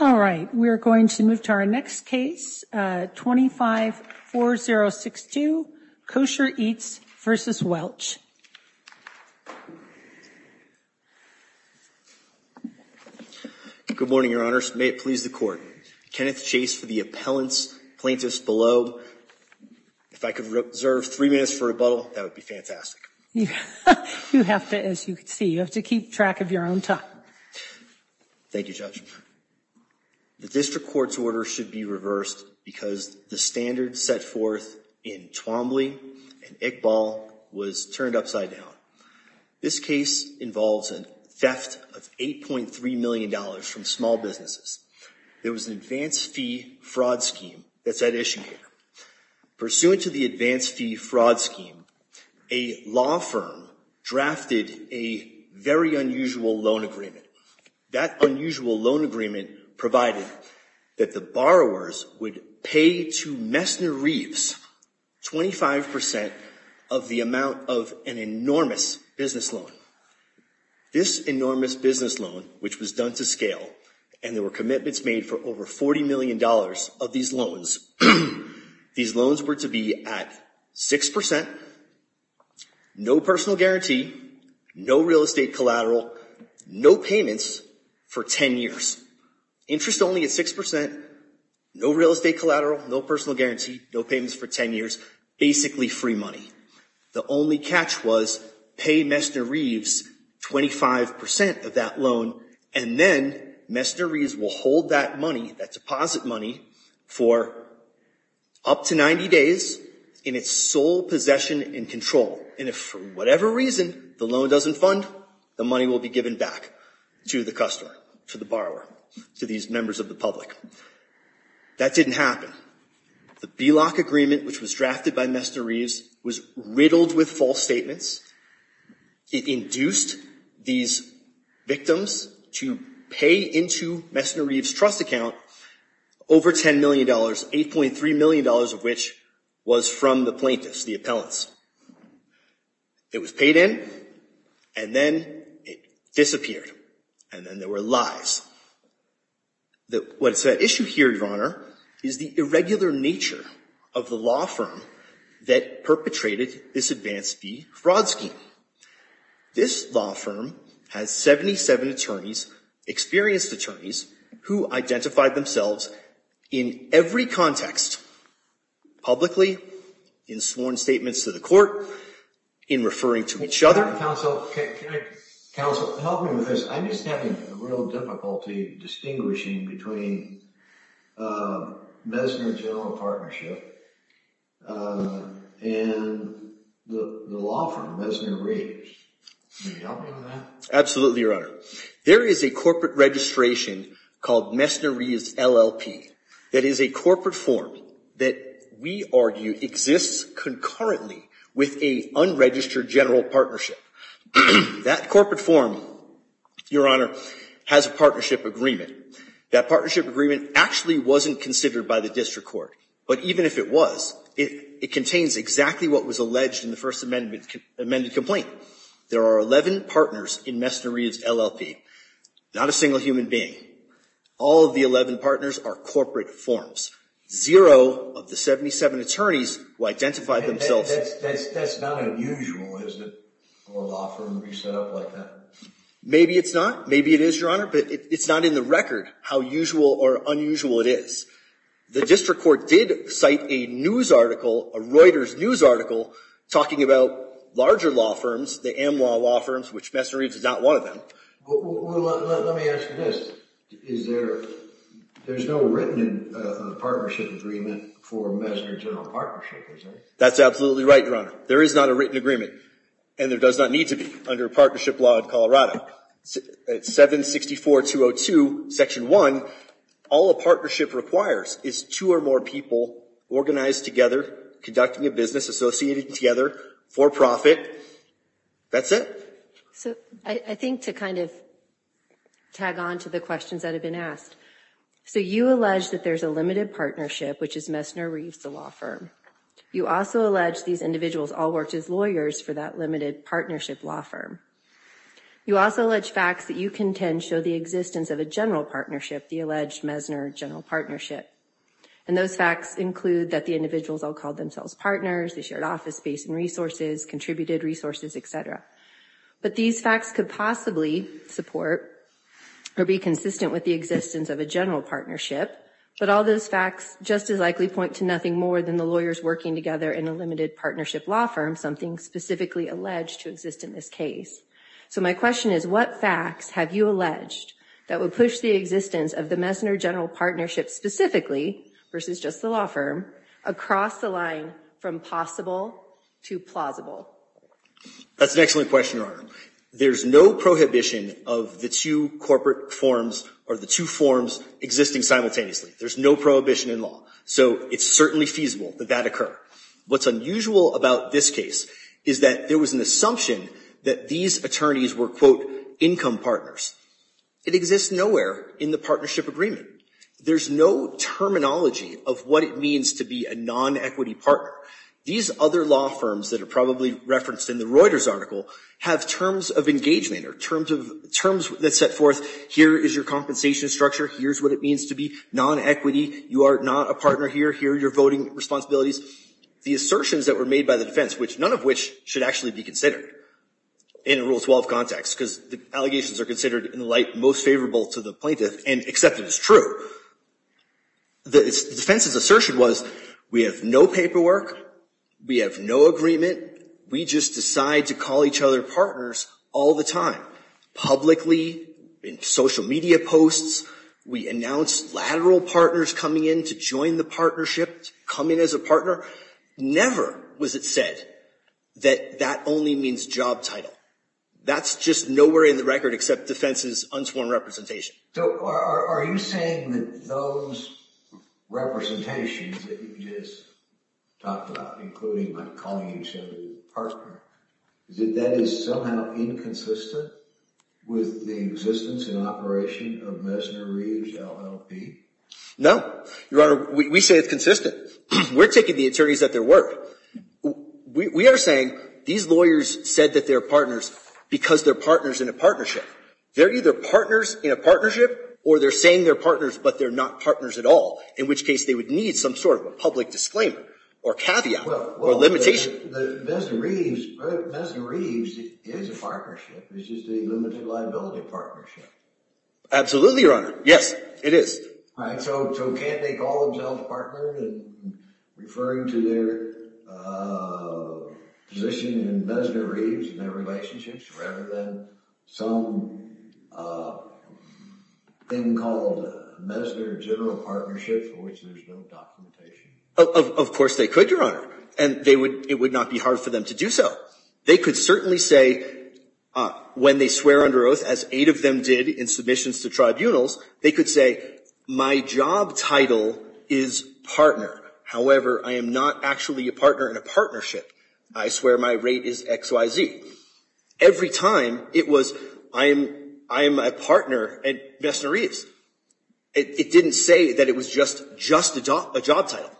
All right, we're going to move to our next case, 25-4062, Kosher Eats v. Welch. Good morning, Your Honors. May it please the Court. Kenneth Chase for the appellants, plaintiffs below. If I could reserve three minutes for rebuttal, that would be fantastic. You have to, as you can see, you have to keep track of your own time. Thank you, Judge. The district court's order should be reversed because the standard set forth in Twombly and Iqbal was turned upside down. This case involves a theft of $8.3 million from small businesses. There was an advance fee fraud scheme that's at issue here. Pursuant to the advance fee fraud scheme, a law firm drafted a very unusual loan agreement. That unusual loan agreement provided that the borrowers would pay to Messner Reeves 25% of the amount of an enormous business loan. This enormous business loan, which was done to scale, and there were commitments made for over $40 million of these loans. These loans were to be at 6%, no personal guarantee, no real estate collateral, no payments for 10 years. Interest only at 6%, no real estate collateral, no personal guarantee, no payments for 10 years, basically free money. The only catch was pay Messner Reeves 25% of that loan, and then Messner Reeves will hold that money, that deposit money, for up to 90 days in its sole possession and control. And if, for whatever reason, the loan doesn't fund, the money will be given back to the customer, to the borrower, to these members of the public. That didn't happen. The BELOC agreement, which was drafted by Messner Reeves, was riddled with false statements. It induced these victims to pay into Messner Reeves' trust account, over $10 million, $8.3 million of which was from the plaintiffs, the appellants. It was paid in, and then it disappeared. And then there were lies. What's at issue here, Your Honor, is the irregular nature of the law firm that perpetrated this advance fee fraud scheme. This law firm has 77 attorneys, experienced attorneys, who identified themselves in every context, publicly, in sworn statements to the court, in referring to each other. Counsel, can I, counsel, help me with this. I'm just having a real difficulty distinguishing between Messner General Partnership and the law firm, Messner Reeves. Can you help me with that? Absolutely, Your Honor. There is a corporate registration called Messner Reeves LLP that is a corporate form that we argue exists concurrently with a unregistered general partnership. That corporate form, Your Honor, has a partnership agreement. That partnership agreement actually wasn't considered by the district court. But even if it was, it contains exactly what was alleged in the First Amendment amended complaint. There are 11 partners in Messner Reeves LLP, not a single human being. All of the 11 partners are corporate forms. Zero of the 77 attorneys who identified themselves. That's not unusual, is it, for a law firm to be set up like that? Maybe it's not. Maybe it is, Your Honor. But it's not in the record how usual or unusual it is. The district court did cite a news article, a Reuters news article, talking about larger law firms, the AMWA law firms, which Messner Reeves is not one of them. Well, let me ask you this. There's no written partnership agreement for Messner general partnership, is there? That's absolutely right, Your Honor. There is not a written agreement. And there does not need to be under a partnership law in Colorado. 764-202, section 1, all a partnership requires is two or more people organized together, conducting a business associated together, for profit. That's it. So I think to kind of tag on to the questions that have been asked. So you allege that there's a limited partnership, which is Messner Reeves, the law firm. You also allege these individuals all worked as lawyers for that limited partnership law firm. You also allege facts that you contend show the existence of a general partnership, the alleged Messner general partnership. And those facts include that the individuals all called themselves partners. They shared office space and resources, contributed resources, et cetera. But these facts could possibly support or be consistent with the existence of a general partnership. But all those facts just as likely point to nothing more than the lawyers working together in a limited partnership law firm, something specifically alleged to exist in this case. So my question is, what facts have you alleged that would push the existence of the Messner general partnership specifically, versus just the law firm, across the line from possible to plausible? That's an excellent question, Your Honor. There's no prohibition of the two corporate forms or the two forms existing simultaneously. There's no prohibition in law. So it's certainly feasible that that occur. What's unusual about this case is that there was an assumption that these attorneys were, quote, income partners. It exists nowhere in the partnership agreement. There's no terminology of what it means to be a non-equity partner. These other law firms that are probably referenced in the Reuters article have terms of engagement or terms that set forth, here is your compensation structure. Here's what it means to be non-equity. You are not a partner here. Here are your voting responsibilities. The assertions that were made by the defense, which none of which should actually be considered in a Rule 12 context, because the allegations are considered in the light most favorable to the plaintiff and accepted as true. The defense's assertion was, we have no paperwork. We have no agreement. We just decide to call each other partners all the time, publicly, in social media posts. We announce lateral partners coming in to join the partnership, coming as a partner. Never was it said that that only means job title. That's just nowhere in the record except defense's unsworn representation. So are you saying that those representations that you just talked about, including by calling each other partners, is that that is somehow inconsistent with the existence and operation of Messner, Reeves, LLP? No. Your Honor, we say it's consistent. We're taking the attorneys at their word. We are saying these lawyers said that they're partners because they're partners in a partnership. They're either partners in a partnership, or they're saying they're partners, but they're not partners at all, in which case they would need some sort of a public disclaimer, or caveat, or limitation. Messner-Reeves is a partnership. It's just a limited liability partnership. Absolutely, Your Honor. Yes, it is. So can't they call themselves partners referring to their position in Messner-Reeves and their relationships, rather than some thing called Messner General Partnership, for which there's no documentation? Of course they could, Your Honor. And it would not be hard for them to do so. They could certainly say, when they swear under oath, as eight of them did in submissions to tribunals, they could say, my job title is partner. However, I am not actually a partner in a partnership. I swear my rate is XYZ. Every time, it was, I am a partner at Messner-Reeves. It didn't say that it was just a job title.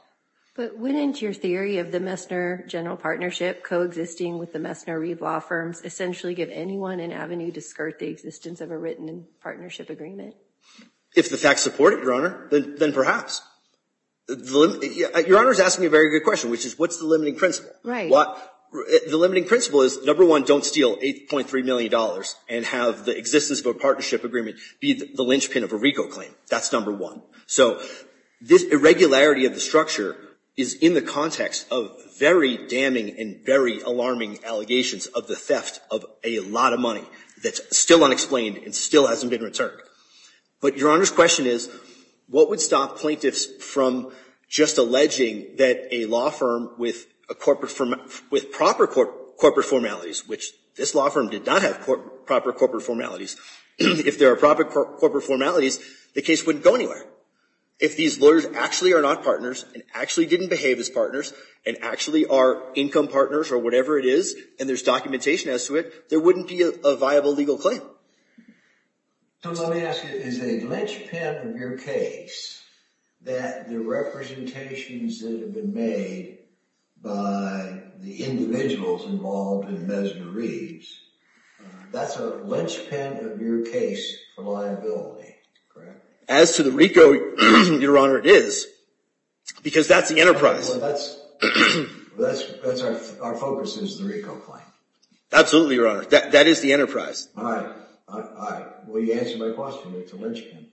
But wouldn't your theory of the Messner General Partnership coexisting with the Messner-Reeves law firms essentially give anyone an avenue to skirt the existence of a written partnership agreement? If the facts support it, Your Honor, then perhaps. Your Honor is asking a very good question, which is, what's the limiting principle? The limiting principle is, number one, don't steal $8.3 million and have the existence of a partnership agreement be the linchpin of a RICO claim. That's number one. So this irregularity of the structure is in the context of very damning and very alarming allegations of the theft of a lot of money that's still unexplained and still hasn't been returned. But Your Honor's question is, what would stop plaintiffs from just alleging that a law firm with proper corporate formalities, which this law firm did not have proper corporate formalities, if there are proper corporate formalities, the case wouldn't go anywhere. If these lawyers actually are not partners and actually didn't behave as partners and actually are income partners or whatever it is, and there's documentation as to it, there wouldn't be a viable legal claim. So let me ask you, is a linchpin of your case that the representations that have been made by the individuals involved in Mesner Reeves, that's a linchpin of your case for liability, correct? As to the RICO, Your Honor, it is, because that's the enterprise. Well, that's our focus is the RICO claim. Absolutely, Your Honor. That is the enterprise. All right. All right. Well, you answered my question. It's a linchpin.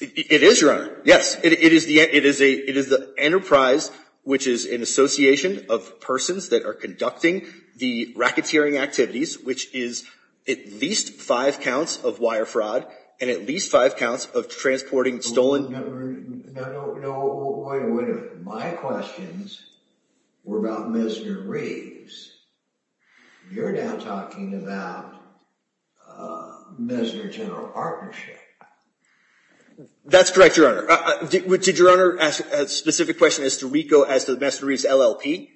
It is, Your Honor. Yes, it is the enterprise, which is an association of persons that are conducting the racketeering activities, which is at least five counts of wire fraud and at least five counts of transporting stolen. No, no, no, wait a minute. My questions were about Mesner Reeves. You're now talking about Mesner General Partnership. That's correct, Your Honor. Did Your Honor ask a specific question as to RICO as to Mesner Reeves LLP?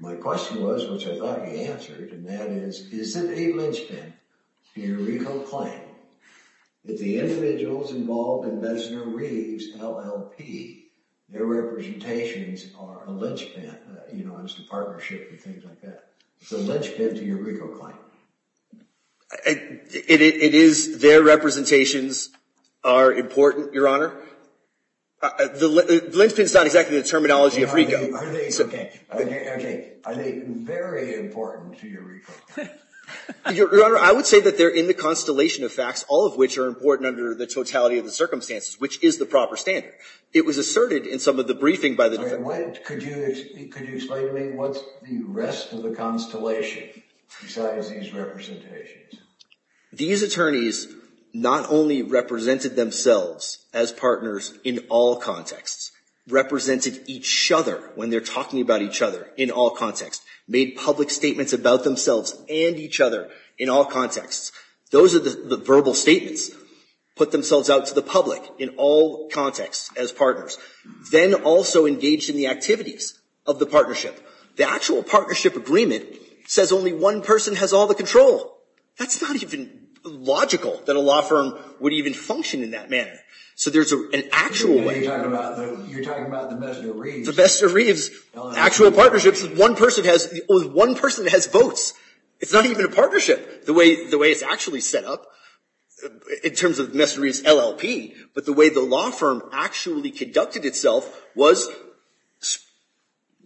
My question was, which I thought you answered, and that is, isn't a linchpin in a RICO claim that the individuals involved in Mesner Reeves LLP, their representations are a linchpin? You know, it's the partnership and things like that. It's a linchpin to your RICO claim. It is. Their representations are important, Your Honor. The linchpin's not exactly the terminology of RICO. Are they? Are they very important to your RICO claim? Your Honor, I would say that they're in the constellation of facts, all of which are important under the totality of the circumstances, which is the proper standard. It was asserted in some of the briefing by the defendants. Could you explain to me what's the rest of the constellation besides these representations? These attorneys not only represented themselves as partners in all contexts, represented each other when they're talking about each other in all contexts, made public statements about themselves and each other in all contexts. Those are the verbal statements, put themselves out to the public in all contexts as partners. Then also engaged in the activities of the partnership. The actual partnership agreement says only one person has all the control. That's not even logical that a law firm would even function in that manner. So there's an actual way. You're talking about the Mesner Reeves. The Mesner Reeves, actual partnerships, one person has votes. It's not even a partnership. The way it's actually set up, in terms of Mesner Reeves LLP, but the way the law firm actually conducted itself was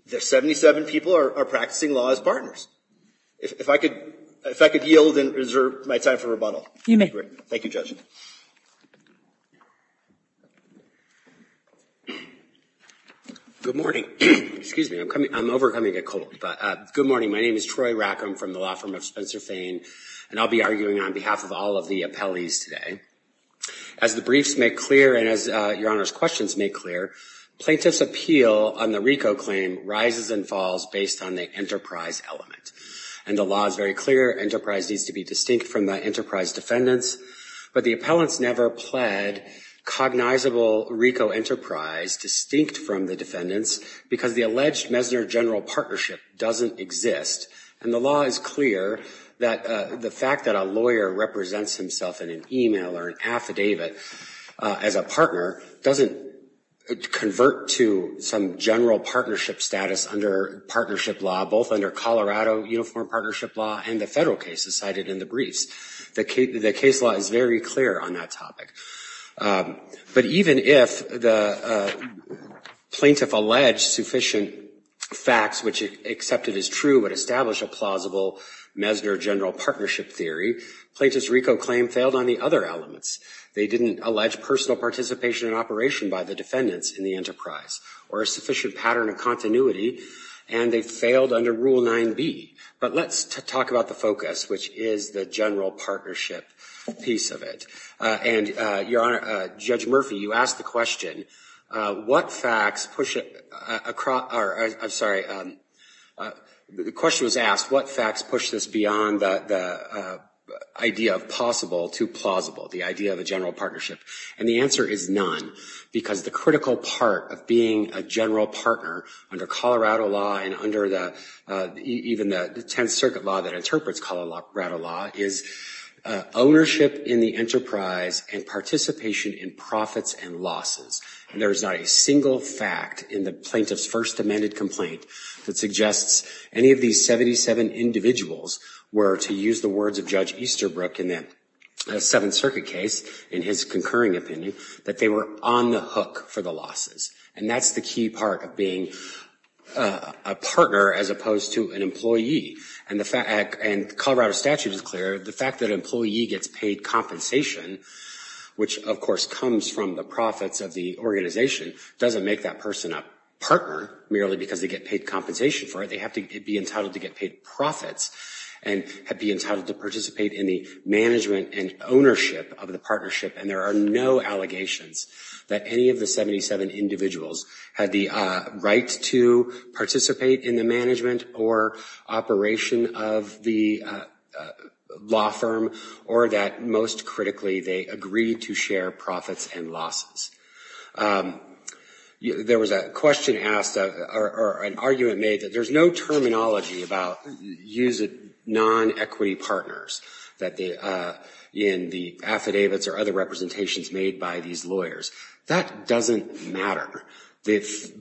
there's 77 people are practicing law as partners. If I could yield and reserve my time for rebuttal. You may. Thank you, Judge. Good morning. Excuse me, I'm overcoming a cold. Good morning, my name is Troy Rackham from the Law Firm of Spencer Fane. And I'll be arguing on behalf of all of the appellees today. As the briefs make clear, and as Your Honor's questions make clear, plaintiff's appeal on the RICO claim rises and falls based on the enterprise element. And the law is very clear, enterprise needs to be distinct from the enterprise defendants. But the appellants never pled cognizable RICO enterprise distinct from the defendants because the alleged Mesner General Partnership doesn't exist. And the law is clear that the fact that a lawyer represents himself in an email or an affidavit as a partner doesn't convert to some general partnership status under partnership law, both under Colorado Uniform Partnership Law and the federal cases cited in the briefs. The case law is very clear on that topic. But even if the plaintiff alleged sufficient facts, which accepted as true, would establish a plausible Mesner General Partnership theory, plaintiff's RICO claim failed on the other elements. They didn't allege personal participation in operation by the defendants in the enterprise or a sufficient pattern of continuity. And they failed under Rule 9b. But let's talk about the focus, which is the general partnership piece of it. And Your Honor, Judge Murphy, you asked the question, what facts push it across, or I'm sorry, the question was asked, what facts push this beyond the idea of possible to plausible, the idea of a general partnership? And the answer is none because the critical part of being a general partner under Colorado law and under even the Tenth Circuit law that interprets Colorado law is ownership in the enterprise and participation in profits and losses. And there is not a single fact in the plaintiff's first amended complaint that suggests any of these 77 individuals were, to use the words of Judge Easterbrook in that Seventh Circuit case, in his concurring opinion, that they were on the hook for the losses. And that's the key part of being a partner as opposed to an employee. And the fact, and Colorado statute is clear, the fact that an employee gets paid compensation, which of course comes from the profits of the organization, doesn't make that person a partner merely because they get paid compensation for it. They have to be entitled to get paid profits and be entitled to participate in the management and ownership of the partnership. And there are no allegations that any of the 77 individuals had the right to participate in the management or operation of the law firm, or that most critically, they agreed to share profits and losses. There was a question asked, or an argument made, that there's no terminology about use of non-equity partners in the affidavits or other representations made by these lawyers. That doesn't matter. The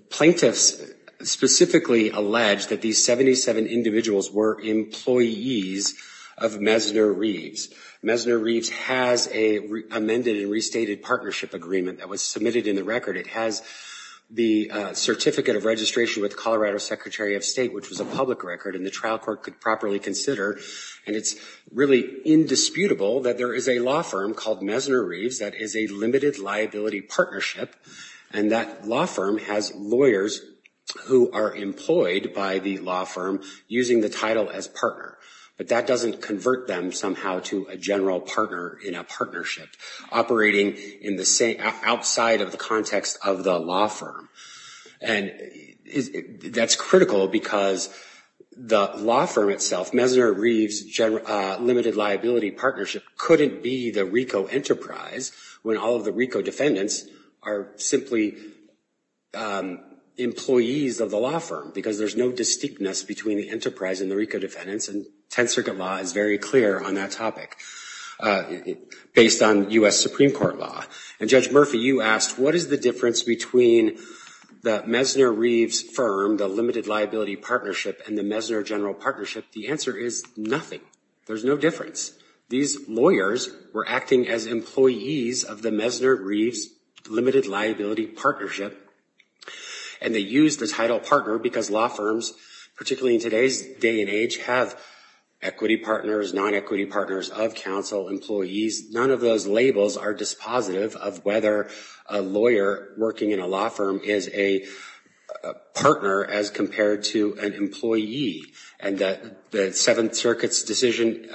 plaintiffs specifically alleged that these 77 individuals were employees of Mesner Reeves. Mesner Reeves has a amended and restated partnership agreement that was submitted in the record. It has the certificate of registration with Colorado Secretary of State, which was a public record, and the trial court could properly consider. And it's really indisputable that there is a law firm called Mesner Reeves that is a limited liability partnership, and that law firm has lawyers who are employed by the law firm using the title as partner. But that doesn't convert them somehow to a general partner in a partnership, operating outside of the context of the law firm. And that's critical, because the law firm itself, Mesner Reeves Limited Liability Partnership, couldn't be the RICO Enterprise when all of the RICO defendants are simply employees of the law firm, because there's no distinctness between the enterprise and the RICO defendants, and 10th Circuit law is very clear on that topic, based on US Supreme Court law. And Judge Murphy, you asked, what is the difference between the Mesner Reeves firm, the Limited Liability Partnership, and the Mesner General Partnership? The answer is nothing. There's no difference. These lawyers were acting as employees of the Mesner Reeves Limited Liability Partnership, and they used the title partner because law firms, particularly in today's day and age, have equity partners, non-equity partners of counsel, employees. None of those labels are dispositive of whether a lawyer working in a law firm is a partner as compared to an employee. And the Seventh Circuit's decision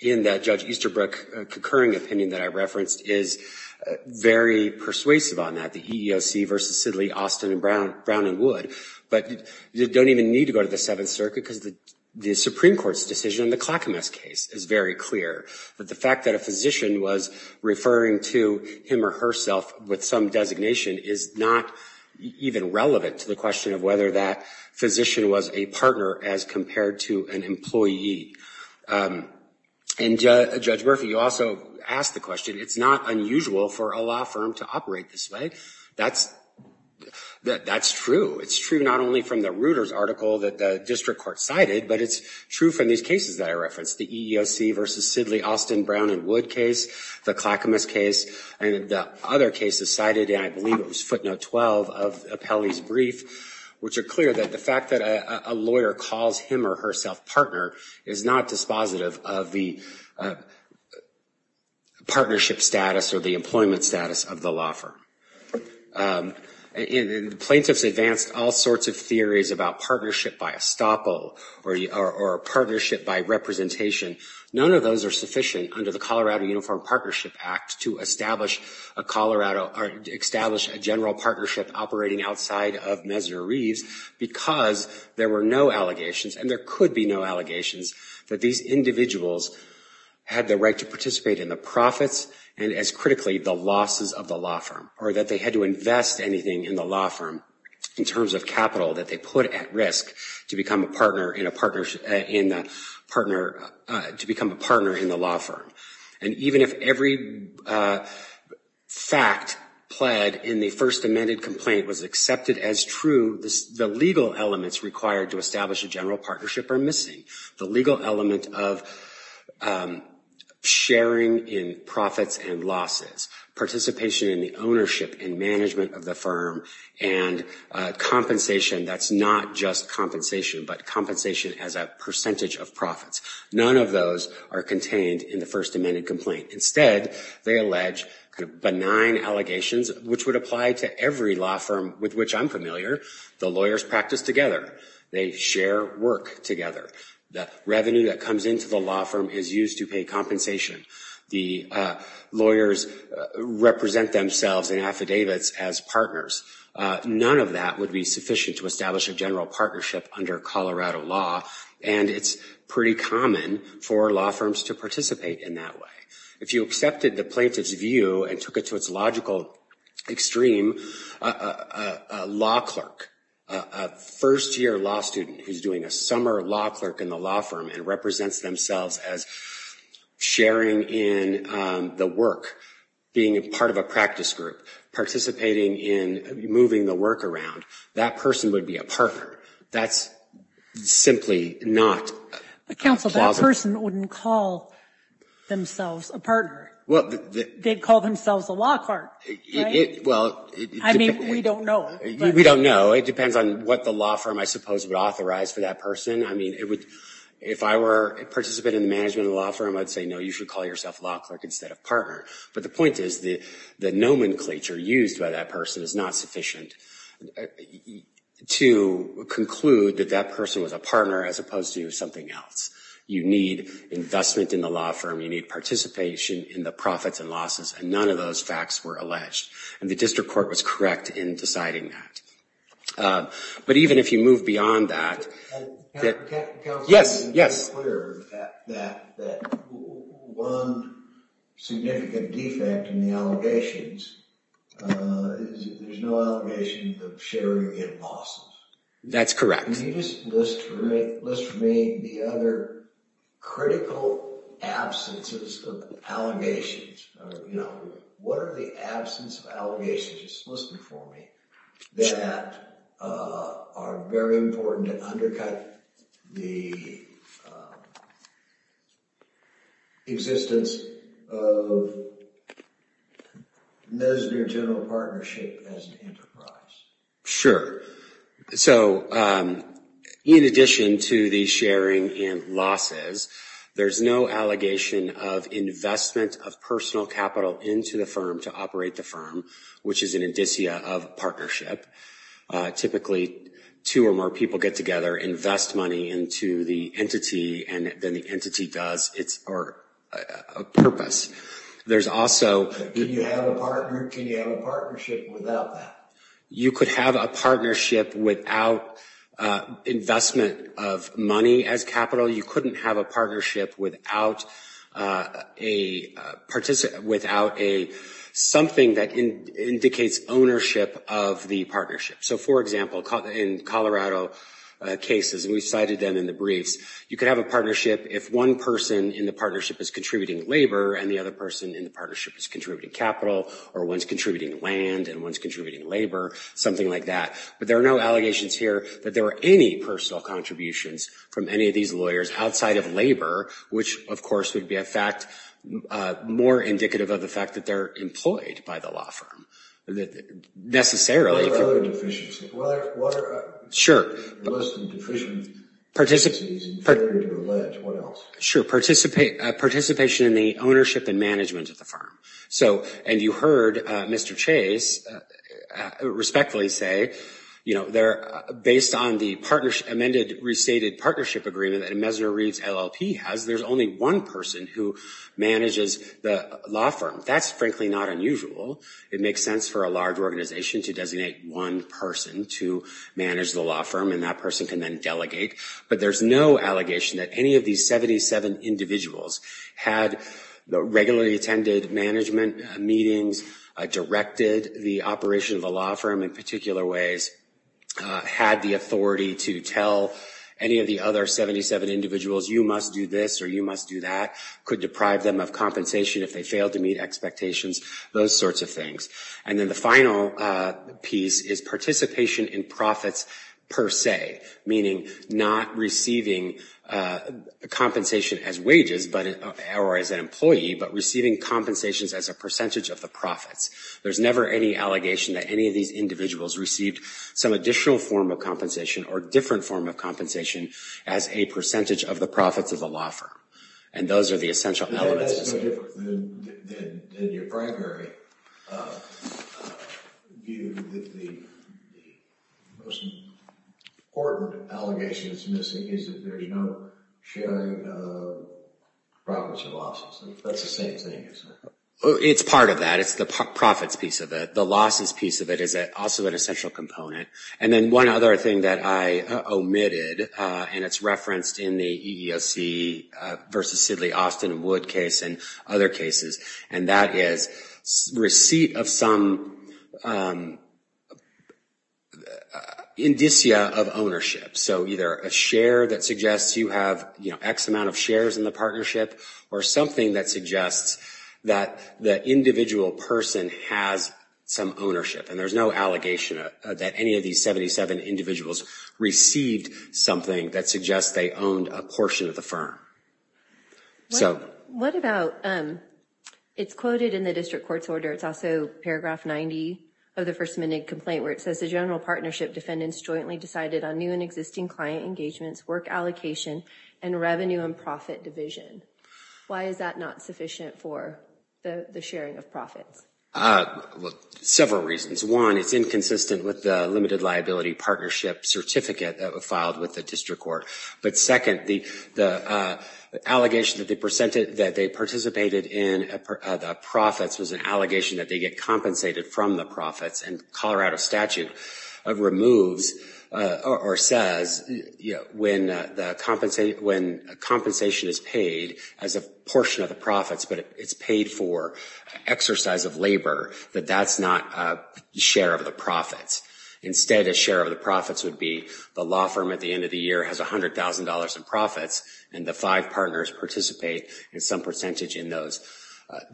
in that Judge Easterbrook concurring opinion that I referenced is very persuasive on that, the EEOC versus Sidley, Austin, and Brown, and Wood. But you don't even need to go to the Seventh Circuit because the Supreme Court's decision in the Clackamas case is very clear. But the fact that a physician was referring to him or herself with some designation is not even relevant to the question of whether that physician was a partner as compared to an employee. And Judge Murphy, you also asked the question, it's not unusual for a law firm to operate this way. That's true. It's true not only from the Reuters article that the district court cited, but it's true from these cases that I referenced, the EEOC versus Sidley, Austin, Brown, and Wood case, the Clackamas case, and the other cases cited, and I believe it was footnote 12 of Appelli's brief, which are clear that the fact that a lawyer calls him or herself partner is not dispositive of the partnership status or the employment status of the law firm. And the plaintiffs advanced all sorts of theories about partnership by estoppel or partnership by representation. None of those are sufficient under the Colorado Uniform Partnership Act to establish a general partnership operating outside of Messner Reeves because there were no allegations, and there could be no allegations, that these individuals had the right to participate in the profits, and as critically, the losses of the law firm, or that they had to invest anything in the law firm in terms of capital that they put at risk to become a partner in the law firm. And even if every fact pled in the first amended complaint was accepted as true, the legal elements required to establish a general partnership are missing, the legal element of sharing in profits and losses, participation in the ownership and management of the firm, and compensation that's not just compensation, but compensation as a percentage of profits. None of those are contained in the first amended complaint. Instead, they allege benign allegations, which would apply to every law firm with which I'm familiar. The lawyers practice together. They share work together. The revenue that comes into the law firm is used to pay compensation. The lawyers represent themselves in affidavits as partners. None of that would be sufficient to establish a general partnership under Colorado law, and it's pretty common for law firms to participate in that way. If you accepted the plaintiff's view and took it to its logical extreme, a law clerk, a first year law student who's doing a summer law clerk in the law firm and represents themselves as sharing in the work, being a part of a practice group, participating in moving the work around, that person would be a partner. That's simply not plausible. But, counsel, that person wouldn't call themselves a partner. They'd call themselves a law clerk, right? Well, it depends. I mean, we don't know. We don't know. It depends on what the law firm, I suppose, would authorize for that person. I mean, if I were a participant in the management of a law firm, I'd say, no, you should call yourself a law clerk instead of partner. But the point is the nomenclature used by that person is not sufficient to conclude that that person was a partner as opposed to something else. You need investment in the law firm. You need participation in the profits and losses. And none of those facts were alleged. And the district court was correct in deciding that. But even if you move beyond that, yes, yes. Counsel, it's unclear that one significant defect in the allegations is that there's no allegations of sharing in losses. That's correct. Can you just list for me the other critical absences of allegations? What are the absence of allegations? List them for me. That are very important to undercut the existence of Mesner General Partnership as an enterprise. Sure. So in addition to the sharing in losses, there's no allegation of investment of personal capital into the firm to operate the firm, which is an indicia of partnership. Typically, two or more people get together, invest money into the entity, and then the entity does its purpose. There's also- Can you have a partnership without that? You could have a partnership without investment of money as capital. You couldn't have a partnership without something that indicates ownership of the partnership. So for example, in Colorado cases, we cited them in the briefs, you could have a partnership if one person in the partnership is contributing labor and the other person in the partnership is contributing capital, or one's contributing land and one's contributing labor, something like that. But there are no allegations here that there were any personal contributions from any of these lawyers outside of labor, which of course would be a fact more indicative of the fact that they're employed by the law firm. Necessarily. What are other deficiencies? Sure. What are the most deficient deficiencies in favoritism or what else? Sure. Participation in the ownership and management of the firm. And you heard Mr. Chase respectfully say, based on the amended restated partnership agreement that a Mesner Reeves LLP has, there's only one person who manages the law firm. That's frankly not unusual. It makes sense for a large organization to designate one person to manage the law firm and that person can then delegate. But there's no allegation that any of these 77 individuals had regularly attended management meetings, directed the operation of the law firm, in particular ways, had the authority to tell any of the other 77 individuals, you must do this or you must do that, could deprive them of compensation if they failed to meet expectations, those sorts of things. And then the final piece is participation in profits per se, meaning not receiving compensation as wages or as an employee, but receiving compensations as a percentage of the profits. There's never any allegation that any of these individuals received some additional form of compensation or different form of compensation as a percentage of the profits of the law firm. And those are the essential elements. That's no different than your primary view that the most important allegation that's missing is that there's no sharing of profits or losses. That's the same thing, isn't it? It's part of that. It's the profits piece of it. The losses piece of it is also an essential component. And then one other thing that I omitted, and it's referenced in the EEOC versus Sidley, Austin, and Wood case and other cases, and that is receipt of some indicia of ownership. So either a share that suggests you have x amount of shares in the partnership, or something that suggests that the individual person has some ownership. And there's no allegation that any of these 77 individuals received something that suggests they owned a portion of the firm. What about, it's quoted in the district court's order. It's also paragraph 90 of the first minute complaint where it says, the general partnership defendants jointly decided on new and existing client engagements, work allocation, and revenue and profit division. Why is that not sufficient for the sharing of profits? Several reasons. One, it's inconsistent with the limited liability partnership certificate that was filed with the district court. But second, the allegation that they participated in the profits was an allegation that they get compensated from the profits. And Colorado statute removes, or says, when compensation is paid as a portion of the profits, but it's paid for exercise of labor, that that's not a share of the profits. Instead, a share of the profits would be the law firm at the end of the year has $100,000 in profits, and the five partners participate in some percentage in that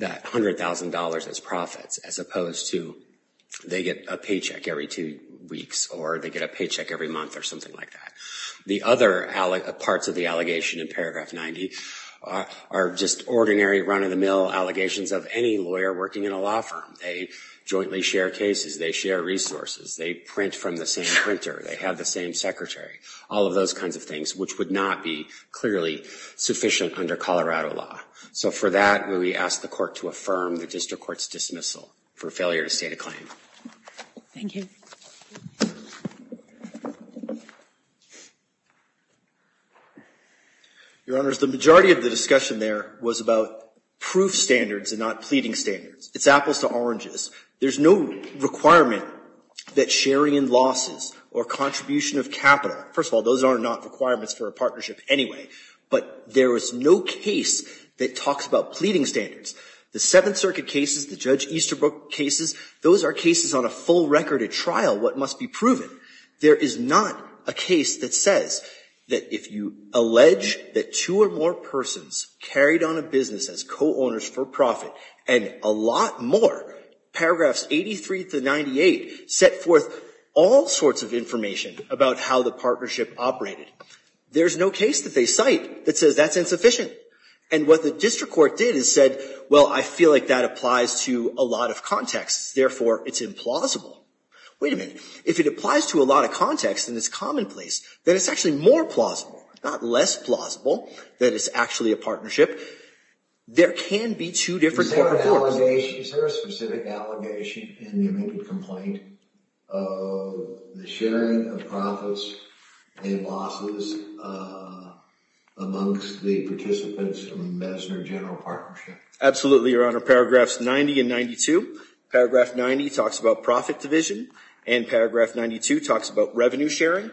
$100,000 as profits, as opposed to they get a paycheck every two weeks, or they get a paycheck every month, or something like that. The other parts of the allegation in paragraph 90 are just ordinary run-of-the-mill allegations of any lawyer working in a law firm. They jointly share cases, they share resources, they print from the same printer, they have the same secretary, all of those kinds of things, which would not be clearly sufficient under Colorado law. So for that, we ask the court to affirm the district court's dismissal for failure to state a claim. Thank you. Your Honors, the majority of the discussion there was about proof standards and not pleading standards. It's apples to oranges. There's no requirement that sharing in losses or contribution of capital, first of all, those are not requirements for a partnership anyway, but there is no case that talks about pleading standards. The Seventh Circuit cases, the Judge Easterbrook cases, those are cases on a full record at trial, what must be proven. There is not a case that says that if you allege that two or more persons carried on a business as co-owners for profit, and a lot more, paragraphs 83 to 98 set forth all sorts of information about how the partnership operated. There's no case that they cite that says that's insufficient. And what the district court did is said, well, I feel like that applies to a lot of contexts. Therefore, it's implausible. Wait a minute. If it applies to a lot of contexts and it's commonplace, then it's actually more plausible, not less plausible, that it's actually a partnership. There can be two different court reports. Is there a specific allegation in the omitted complaint of the sharing of profits and losses amongst the participants of the Messner General Partnership? Absolutely, Your Honor. Paragraphs 90 and 92. Paragraph 90 talks about profit division. And paragraph 92 talks about revenue sharing.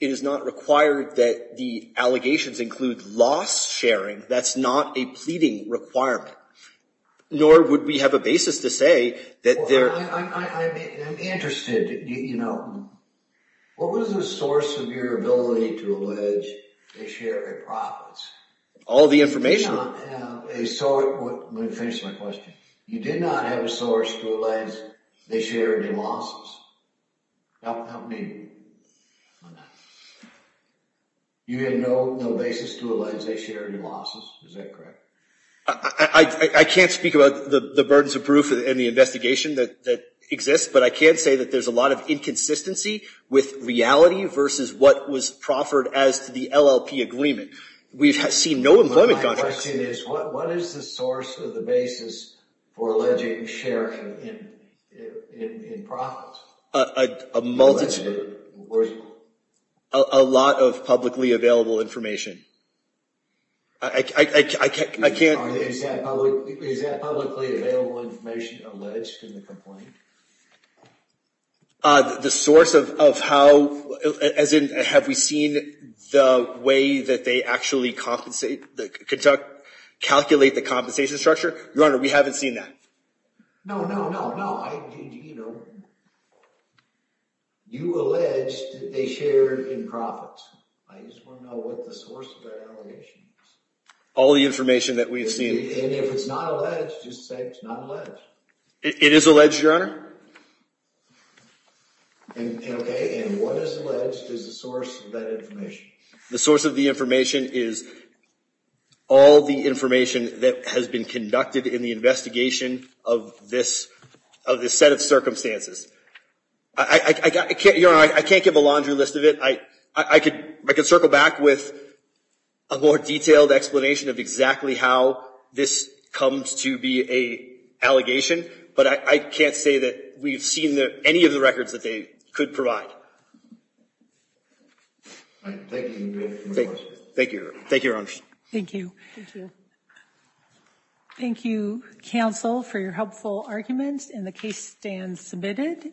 It is not required that the allegations include loss sharing. That's not a pleading requirement. Nor would we have a basis to say that there are. I'm interested. You know, what was the source of your ability to allege a share of profits? All the information. Let me finish my question. You did not have a source to allege they shared any losses? You had no basis to allege they shared any losses? Is that correct? I can't speak about the burdens of proof in the investigation that exists. But I can say that there's a lot of inconsistency with reality versus what was proffered as to the LLP agreement. We've seen no employment contracts. My question is, what is the source of the basis for alleging sharing in profits? A lot of publicly available information. Is that publicly available information alleged in the complaint? The source of how, as in, have we seen the way that they actually calculate the compensation structure? Your Honor, we haven't seen that. No, no, no, no. You allege that they shared in profits. I just want to know what the source of that allegation is. All the information that we've seen. And if it's not alleged, just say it's not alleged. It is alleged, Your Honor. And what is alleged is the source of that information. The source of the information is all the information that has been conducted in the investigation of this set of circumstances. I can't give a laundry list of it. I could circle back with a more detailed explanation of exactly how this comes to be a allegation. But I can't say that we've seen any of the records that they could provide. Thank you. Thank you, Your Honor. Thank you. Thank you, counsel, for your helpful arguments. And the case stands submitted.